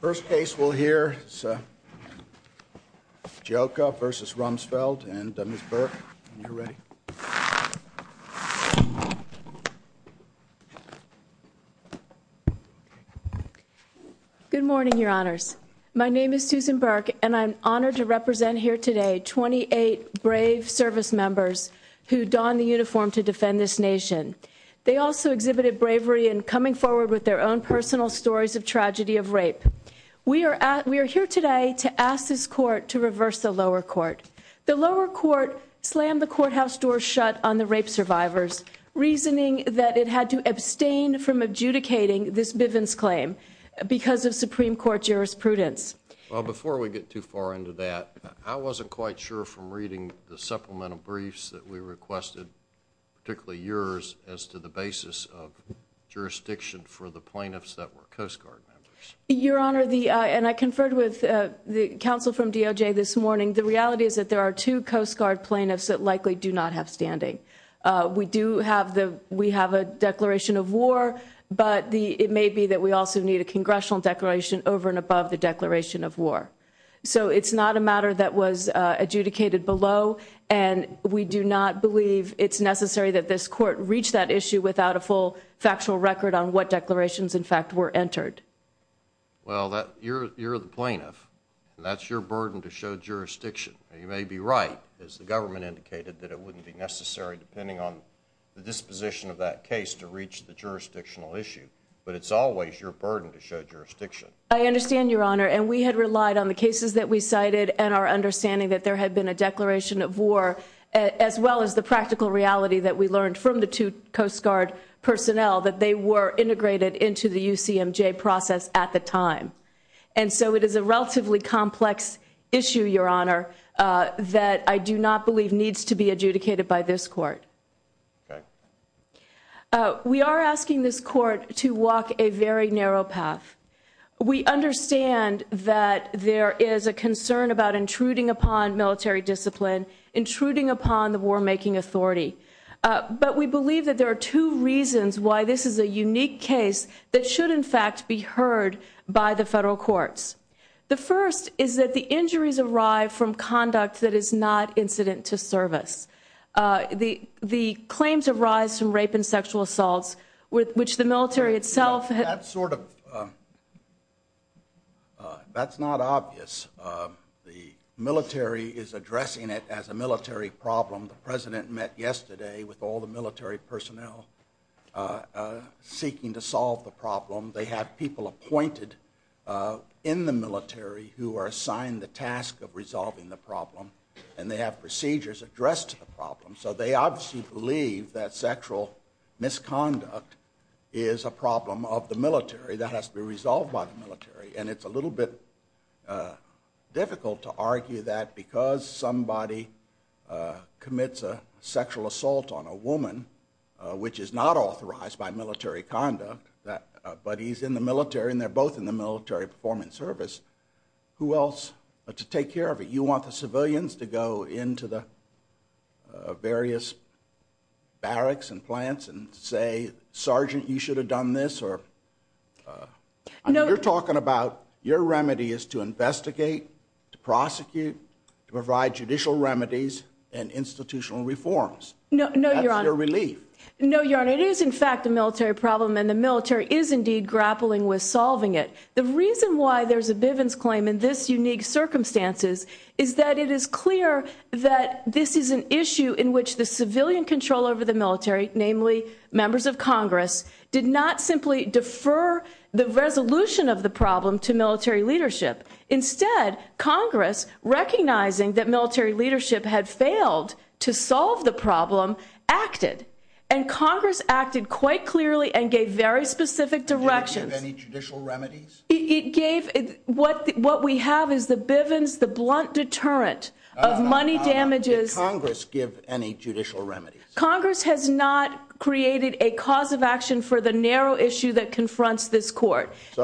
First case we'll hear is Cioca v. Rumsfeld, and Ms. Burke, when you're ready. Good morning, your honors. My name is Susan Burke, and I'm honored to represent here today 28 brave service members who don the uniform to defend this nation. They also exhibited bravery in coming forward with their own personal stories of tragedy of rape. We are here today to ask this court to reverse the lower court. The lower court slammed the courthouse door shut on the rape survivors, reasoning that it had to abstain from adjudicating this Bivens claim because of Supreme Court jurisprudence. Well, before we get too far into that, I wasn't quite sure from reading the supplemental briefs that we requested, particularly yours, as to the basis of jurisdiction for the plaintiffs that were Coast Guard members. Your honor, and I conferred with the counsel from DOJ this morning, the reality is that there are two Coast Guard plaintiffs that likely do not have standing. We do have the we have a declaration of war, but it may be that we also need a congressional declaration over and above the declaration of war. So it's not a matter that was adjudicated below, and we do not believe it's necessary that this court reach that issue without a full factual record on what declarations, in fact, were entered. Well, you're the plaintiff, and that's your burden to show jurisdiction. You may be right, as the government indicated, that it wouldn't be necessary, depending on the disposition of that case, to reach the jurisdictional issue. But it's always your burden to show jurisdiction. I understand, your honor, and we had relied on the cases that we cited and our understanding that there had been a declaration of war, as well as the practical reality that we learned from the two Coast Guard personnel, that they were integrated into the UCMJ process at the time. And so it is a relatively complex issue, your honor, that I do not believe needs to be adjudicated by this court. We are asking this court to walk a very narrow path. We understand that there is a concern about intruding upon military discipline, intruding upon the war-making authority. But we believe that there are two reasons why this is a unique case that should, in fact, be heard by the federal courts. The first is that the injuries arrive from conduct that is not incident to service. The claims arise from rape and sexual assaults, with which the military itself... That's not obvious. The military is addressing it as a military problem. The president met yesterday with all the military personnel seeking to solve the problem. They have people appointed in the military who are assigned the task of resolving the problem, and they have procedures addressed to the problem. So they obviously believe that sexual misconduct is a problem of the military that has to be resolved by the military. And it's a little bit difficult to argue that because somebody commits a sexual assault on a woman, which is not authorized by military conduct, but he's in the military and they're both in the military performance service, who else to take care of it? You want the civilians to go into the various barracks and plants and say, Sergeant, you should have done this or... No. You're talking about your remedy is to investigate, to prosecute, to provide judicial remedies and institutional reforms. No, no, your honor. That's your relief. No, your honor. It is, in fact, a military problem, and the military is indeed grappling with solving it. The reason why there's a Bivens claim in this unique circumstances is that it is clear that this is an issue in which the civilian control over the military, namely members of Congress, did not simply defer the resolution of the problem to military leadership. Instead, Congress, recognizing that military leadership had failed to solve the problem, acted. And Congress acted quite clearly and gave very what we have is the Bivens, the blunt deterrent of money damages. Did Congress give any judicial remedies? Congress has not created a cause of action for the narrow issue that confronts this court. So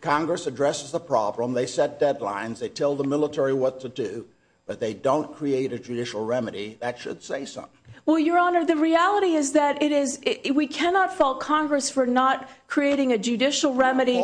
Congress addresses the problem, they set deadlines, they tell the military what to do, but they don't create a judicial remedy. That should say something. Well, your honor, the reality is that it is, we cannot fault Congress for not creating a judicial remedy.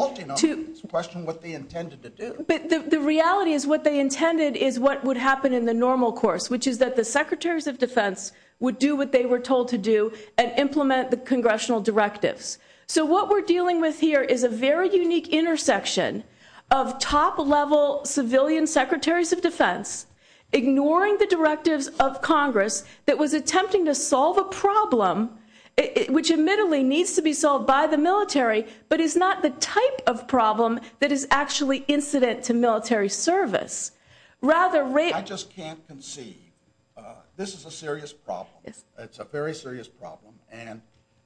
Question what they intended to do. But the reality is what they intended is what would happen in the normal course, which is that the secretaries of defense would do what they were told to do and implement the congressional directives. So what we're dealing with here is a very unique intersection of top level civilian secretaries of defense, ignoring the directives of Congress that was attempting to solve a problem, which admittedly needs to be solved by the military, but is not the type of problem that is actually incident to military service. Rather, I just can't conceive. This is a serious problem. It's a very serious problem. And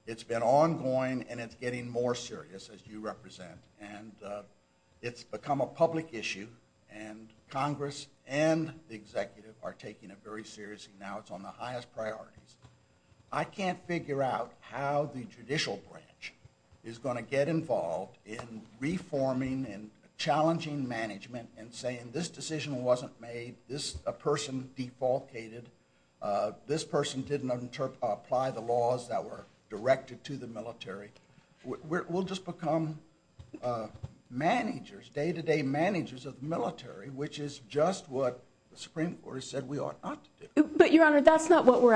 it's been ongoing, and it's getting more serious as you represent. And it's become a public issue. And Congress and the executive are taking it very seriously. Now it's on the highest priorities. I can't figure out how the judicial branch is going to get involved in reforming and challenging management and saying this decision wasn't made, this person defaulted, this person didn't apply the laws that were directed to the military. We'll just become managers, day-to-day managers of the military, which is just what the Supreme Court said we were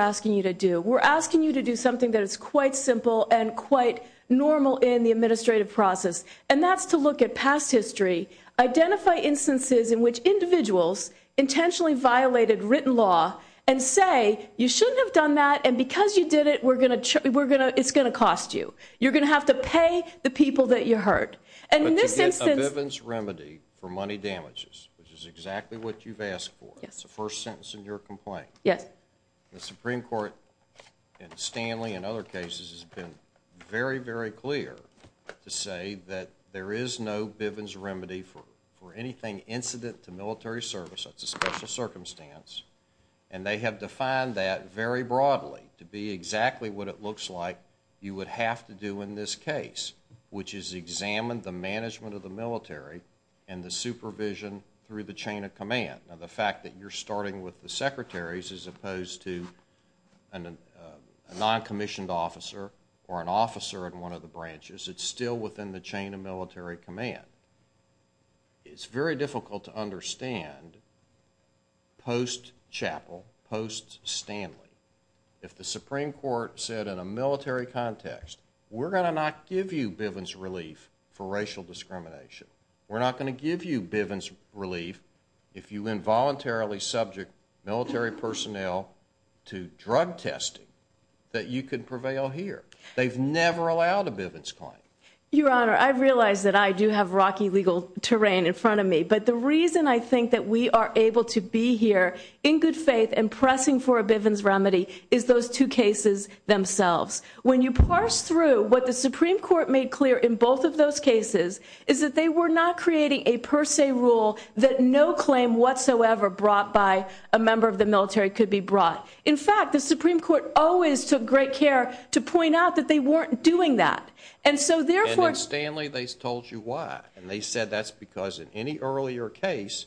asking you to do. We're asking you to do something that is quite simple and quite normal in the administrative process. And that's to look at past history, identify instances in which individuals intentionally violated written law and say, you shouldn't have done that. And because you did it, it's going to cost you. You're going to have to pay the people that you hurt. And in this instance... But to get a Vivens remedy for money damages, which is exactly what you've asked for. It's the first sentence in your complaint. The Supreme Court, and Stanley and other cases, has been very, very clear to say that there is no Vivens remedy for anything incident to military service. That's a special circumstance. And they have defined that very broadly to be exactly what it looks like you would have to do in this case, which is examine the management of the military and the supervision through the command. Now the fact that you're starting with the secretaries as opposed to a non-commissioned officer or an officer in one of the branches, it's still within the chain of military command. It's very difficult to understand post-Chapel, post-Stanley, if the Supreme Court said in a military context, we're going to not give you Vivens relief for racial discrimination. We're not going to give you Vivens relief if you involuntarily subject military personnel to drug testing that you could prevail here. They've never allowed a Vivens claim. Your Honor, I realize that I do have rocky legal terrain in front of me. But the reason I think that we are able to be here in good faith and pressing for a Vivens remedy is those two cases themselves. When you parse through what the Supreme Court made clear in both of those cases is that they were not creating a per se rule that no claim whatsoever brought by a member of the military could be brought. In fact, the Supreme Court always took great care to point out that they weren't doing that. And so therefore- And in Stanley, they told you why. And they said that's because in any earlier case,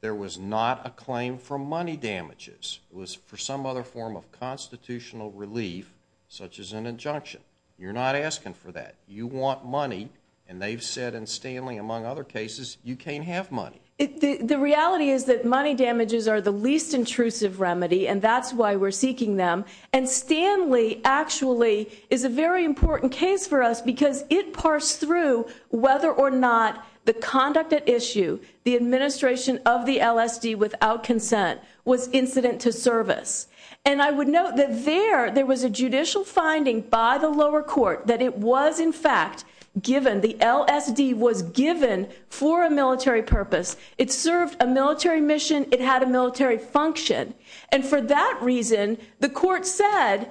there was not a claim for money damages. It was for some other form of constitutional relief, such as an injunction. You're not asking for that. You want money. And they've said in Stanley, among other cases, you can't have money. The reality is that money damages are the least intrusive remedy. And that's why we're seeking them. And Stanley actually is a very important case for us because it parsed through whether or not the conduct at issue, the administration of the LSD without consent was incident to service. And I would note that there, there was a judicial finding by the lower court that it was in fact given, the LSD was given for a military purpose. It served a military mission. It had a military function. And for that reason, the court said,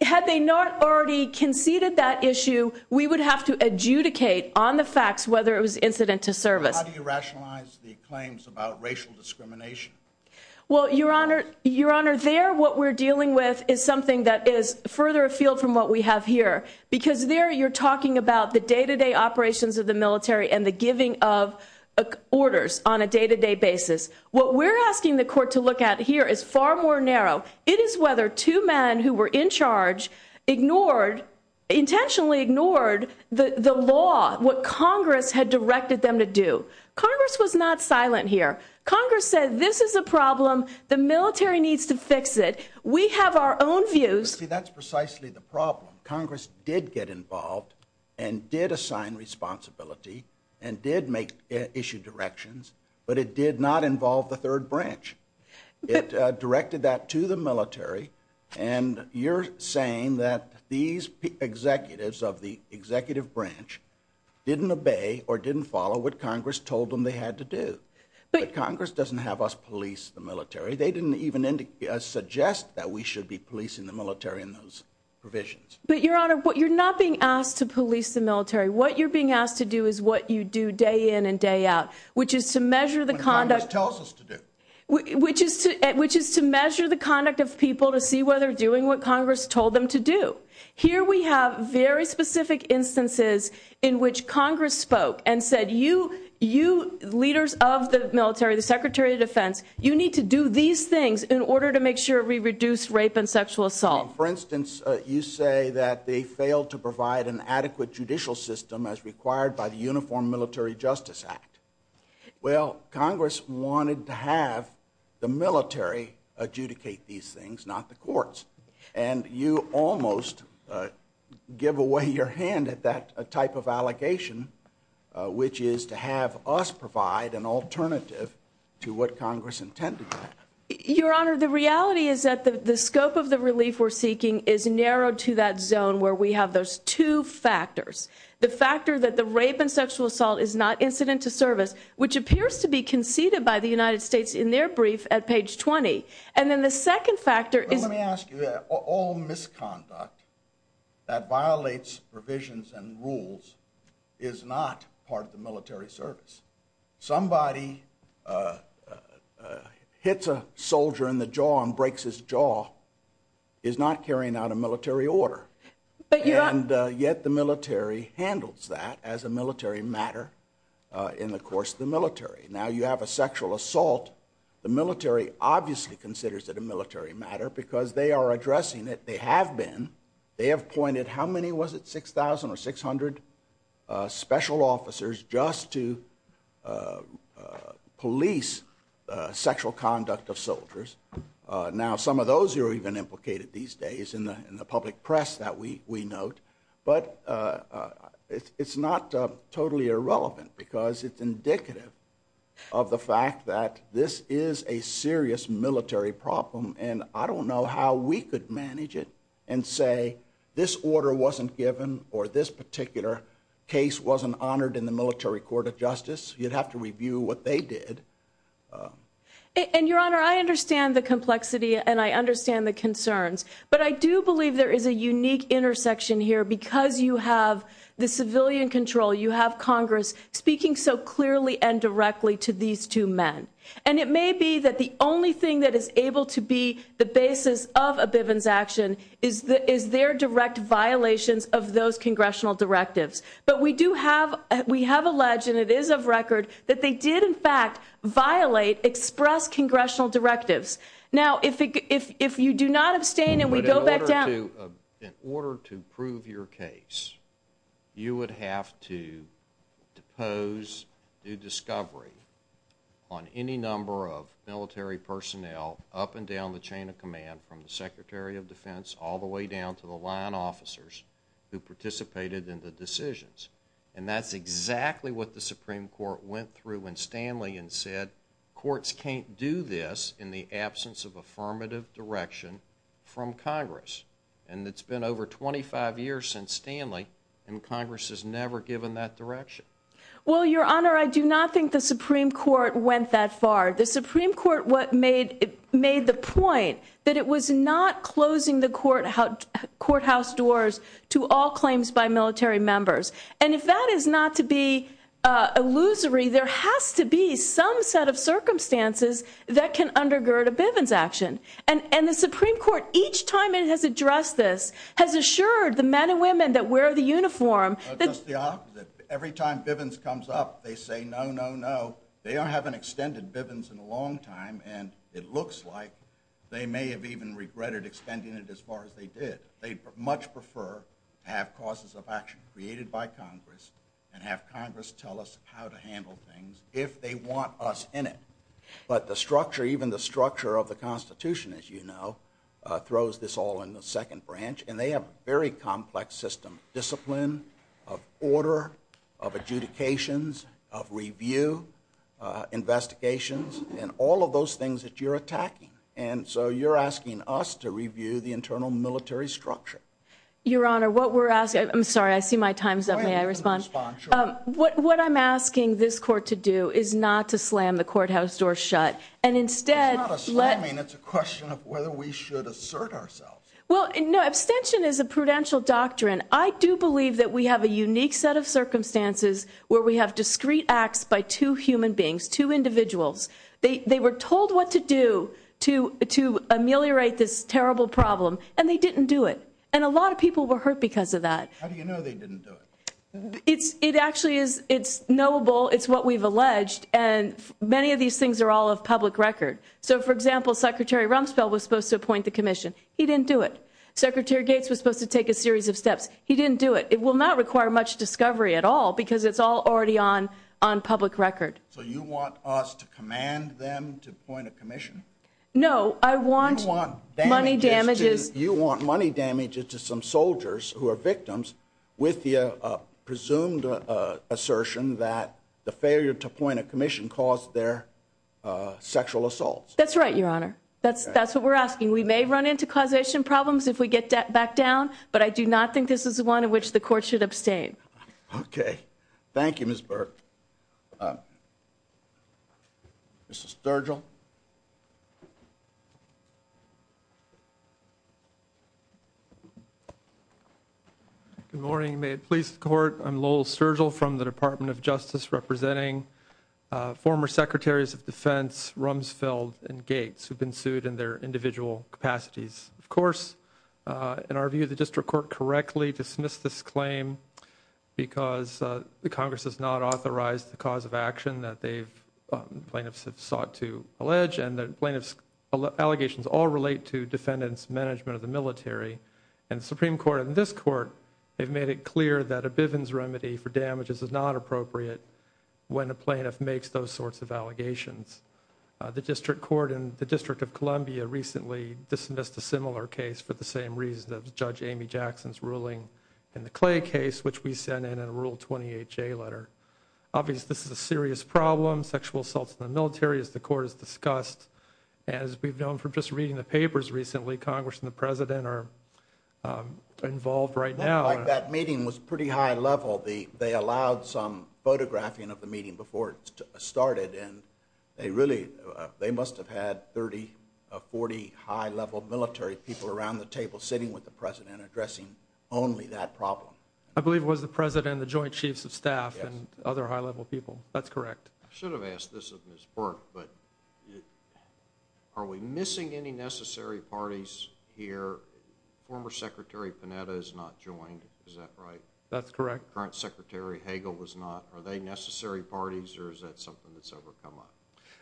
had they not already conceded that issue, we would have to adjudicate on the facts whether it was incident to service. How do you rationalize the claims about racial discrimination? Well, your honor, your honor there, what we're dealing with is something that is further afield from what we have here, because there you're talking about the day-to-day operations of the military and the giving of orders on a day-to-day basis. What we're asking the court to look at here is far more narrow. It is whether two men who were in charge ignored, intentionally ignored the law, what Congress had directed them to do. Congress was not silent here. Congress said, this is a problem. The military needs to fix it. We have our own views. That's precisely the problem. Congress did get involved and did assign responsibility and did make issue directions, but it did not involve the third branch. It directed that to the military. And you're saying that these executives of the executive branch didn't obey or didn't follow what Congress told them they had to do. But Congress doesn't have us police the military. They didn't even suggest that we should be policing the military in those provisions. But your honor, but you're not being asked to police the military. What you're being asked to do is what you do day in and day out, which is to measure the conduct. It tells us to do. Which is to, which is to measure the conduct of people to see whether doing what Congress told them to do. Here we have very specific instances in which Congress spoke and said, you, you leaders of the military, the secretary of defense, you need to do these things in order to make sure we reduce rape and sexual assault. For instance, you say that they failed to provide an adequate judicial system as required by the Uniform Military Justice Act. Well, Congress wanted to have the military adjudicate these things, not the courts. And you almost give away your hand at that type of allegation, which is to have us provide an alternative to what Congress intended. Your honor, the reality is that the scope of the relief we're seeking is narrowed to that zone where we have those two factors. The factor that the rape and sexual assault is not incident to page 20. And then the second factor is. Let me ask you that all misconduct that violates provisions and rules is not part of the military service. Somebody hits a soldier in the jaw and breaks his jaw is not carrying out a military order. But yet the military handles that as a military matter in the course of the military. Now you have a sexual assault. The military obviously considers it a military matter because they are addressing it. They have been. They have pointed, how many was it? 6,000 or 600 special officers just to police sexual conduct of soldiers. Now some of those are even implicated these days in the public press that we note. But it's not totally irrelevant because it's indicative of the fact that this is a serious military problem and I don't know how we could manage it and say this order wasn't given or this particular case wasn't honored in the military court of justice. You'd have to review what they did. And your honor, I understand the complexity and I understand the concerns, but I do believe there is a unique intersection here because you have the civilian control, you have Congress speaking so clearly and directly to these two men. And it may be that the only thing that is able to be the basis of a Bivens action is their direct violations of those congressional directives. But we do have, we have alleged and it is of record that they did in fact violate express congressional directives. Now if you do not abstain and we go back down. In order to prove your case, you would have to depose new discovery on any number of military personnel up and down the chain of command from the secretary of defense all the way down to the line officers who participated in the decisions. And that's exactly what the Supreme Court went through when Stanley and said courts can't do this in the from Congress. And it's been over 25 years since Stanley and Congress has never given that direction. Well, your honor, I do not think the Supreme Court went that far. The Supreme Court what made it made the point that it was not closing the court, how courthouse doors to all claims by military members. And if that is not to be a illusory, there has to be some set of Each time it has addressed this has assured the men and women that wear the uniform. Every time Bivens comes up, they say no, no, no, they don't have an extended Bivens in a long time. And it looks like they may have even regretted extending it as far as they did. They'd much prefer to have causes of action created by Congress and have Congress tell us how to handle things if they want us in it. But the structure, even the structure of the throws this all in the second branch, and they have very complex system, discipline of order of adjudications of review, investigations, and all of those things that you're attacking. And so you're asking us to review the internal military structure. Your honor, what we're asking, I'm sorry, I see my time's up. May I respond? What I'm asking this court to do is not to slam the courthouse door shut. And instead, it's a question of whether we should assert ourselves. Well, no, abstention is a prudential doctrine. I do believe that we have a unique set of circumstances where we have discrete acts by two human beings, two individuals. They were told what to do to ameliorate this terrible problem, and they didn't do it. And a lot of people were hurt because of that. How do you know they didn't do it? It actually is. It's knowable. It's what we've alleged. And many of these things are all of So, for example, Secretary Rumsfeld was supposed to appoint the commission. He didn't do it. Secretary Gates was supposed to take a series of steps. He didn't do it. It will not require much discovery at all because it's all already on public record. So you want us to command them to appoint a commission? No, I want money damages. You want money damages to some soldiers who are victims with the presumed assertion that the failure to appoint a commission caused their sexual assaults. That's right, Your Honor. That's that's what we're asking. We may run into causation problems if we get that back down, but I do not think this is one in which the court should abstain. Okay. Thank you, Ms. Burke. Mr. Sturgill. Good morning. May it please the court. I'm Lowell Sturgill from the Department of Justice, representing former secretaries of defense, Rumsfeld and Gates, who've been sued in their individual capacities. Of course, in our view, the district court correctly dismissed this claim because the Congress has not authorized the cause of action that they've, plaintiffs have sought to allege, and the plaintiff's allegations all relate to defendants' management of the military. And the Supreme Court and this court have made it clear that a Bivens remedy for damages is not appropriate when a plaintiff makes those sorts of allegations. The district court in the District of Columbia recently dismissed a similar case for the same reason that Judge Amy Jackson's ruling in the Clay case, which we sent in a Rule 28J letter. Obviously, this is a serious problem, sexual assaults in the military, as the court has discussed. And as we've known from just reading the papers recently, Congress and the president are involved right now. It looked like that meeting was pretty high level. They allowed some photographing of the meeting before it started, and they really, they must have had 30, 40 high-level military people around the table sitting with the president addressing only that problem. I believe it was the president, the joint chiefs of staff, and other high-level people. That's correct. I should have asked this of Ms. Burke, but are we missing any necessary parties here? Former Secretary Panetta is not joined, is that right? That's correct. Current Secretary Hagel was not. Are they necessary parties, or is that something that's ever come up?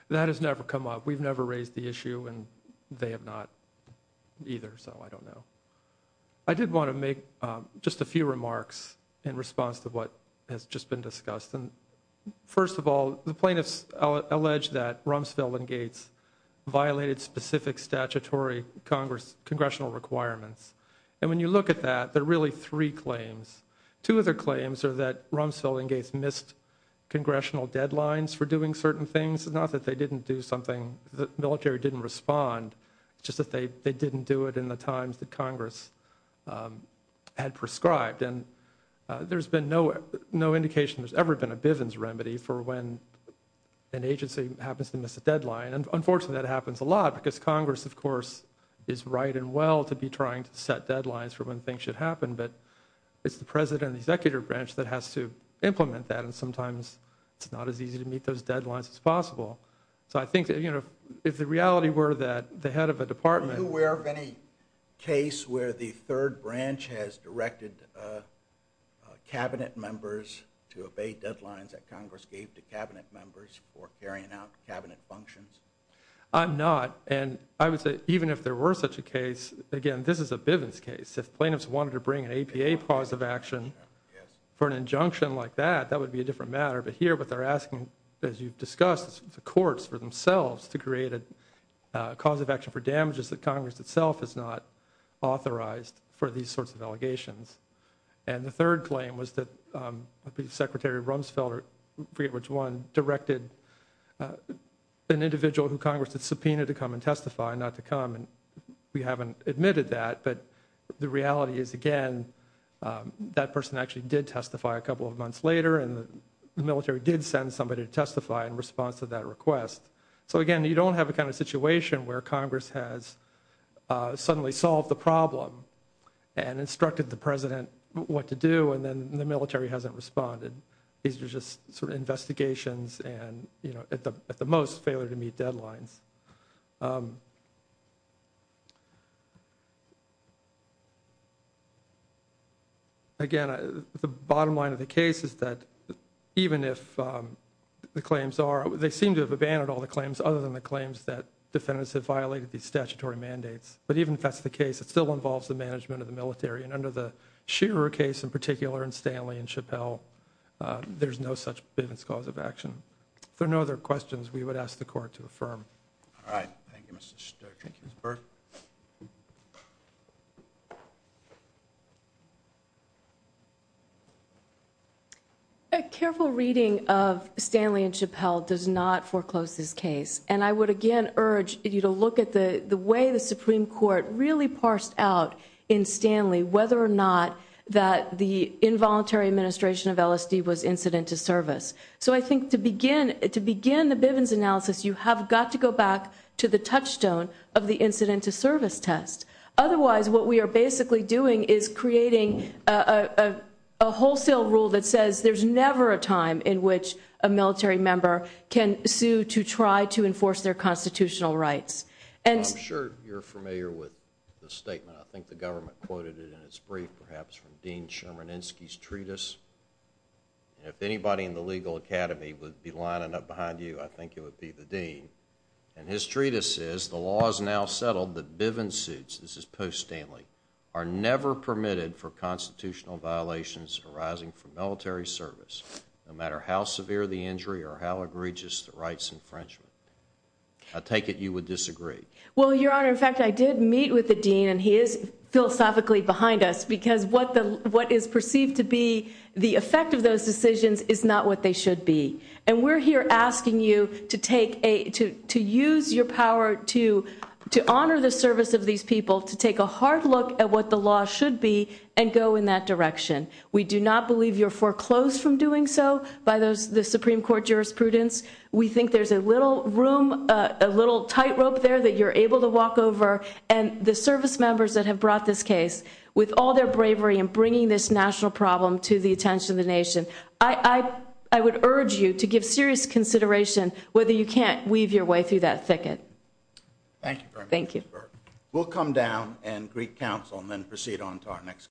That has never come up. We've never raised the issue, and they have not either, so I don't know. I did want to make just a few remarks in response to what has just been discussed. And first of all, the plaintiffs allege that Rumsfeld and Gates violated specific statutory congressional requirements. And when you look at that, there are really three claims. Two of their claims are that Rumsfeld and Gates missed congressional deadlines for doing certain things. It's not that they didn't do something, the military didn't respond. It's just that they didn't do it in the times that Congress had prescribed. And there's been no indication there's ever been a Bivens remedy for when an agency happens to miss a deadline. And unfortunately, that happens a lot, because Congress, of course, is right and well to be trying to set deadlines for when things should happen. But it's the president and the executive branch that has to implement that, and sometimes it's not as easy to meet those deadlines as possible. So I think, you know, if the reality were that the head of a department... Are you aware of any case where the third branch has directed cabinet members to obey deadlines that Congress gave to cabinet members for carrying out cabinet functions? I'm not. And I would say even if there were such a case, again, this is a Bivens case. If plaintiffs wanted to bring an APA pause of action for an injunction like that, that would be a different matter. But here, what they're asking, as you've discussed, is the courts for themselves to create a cause of action for damages that Congress itself is not authorized for these sorts of allegations. And the third claim was that Secretary Rumsfeld, I forget which one, directed an individual who Congress had subpoenaed to come and testify, not to come, and we haven't admitted that. But the reality is, again, that person actually did testify a military did send somebody to testify in response to that request. So again, you don't have a kind of situation where Congress has suddenly solved the problem and instructed the president what to do, and then the military hasn't responded. These are just sort of investigations and, you know, at the most, failure to meet deadlines. Again, the bottom line of the case is that even if the claims are, they seem to have abandoned all the claims other than the claims that defendants have violated these statutory mandates. But even if that's the case, it still involves the management of the military. And under the Scherer case in particular and Stanley and Chappelle, there's no such Bivens cause of All right. Thank you, Mr. Stoker. Thank you, Mr. Berg. A careful reading of Stanley and Chappelle does not foreclose this case. And I would again urge you to look at the way the Supreme Court really parsed out in Stanley whether or not that the involuntary administration of LSD was incident to service. So I think to begin the Bivens analysis, you have got to go back to the touchstone of the incident to service test. Otherwise, what we are basically doing is creating a wholesale rule that says there's never a time in which a military member can sue to try to enforce their constitutional rights. And I'm sure you're familiar with the statement. I think the government quoted it in its brief, perhaps from Dean Sherman Insky's treatise. If anybody in the legal academy would be lining up behind you, I think it would be the dean. And his treatise says the law is now settled that Bivens suits, this is post Stanley, are never permitted for constitutional violations arising from military service, no matter how severe the injury or how egregious the rights infringement. I take it you would disagree. Well, your honor. In fact, I did meet with the dean and he is philosophically behind us because what the what is perceived to be the effect of those decisions is not what they should be. And we're here asking you to take a to to use your power to to honor the service of these people to take a hard look at what the law should be and go in that direction. We do not believe you're foreclosed from doing so by those the Supreme Court jurisprudence. We think there's a little room, a little tightrope there that you're able to walk over. And the service members that have brought this case with all their bravery and bringing this national problem to the attention of the nation. I I would urge you to give serious consideration whether you can't weave your way through that thicket. Thank you. Thank you. We'll come down and greet counsel and then proceed on to our next.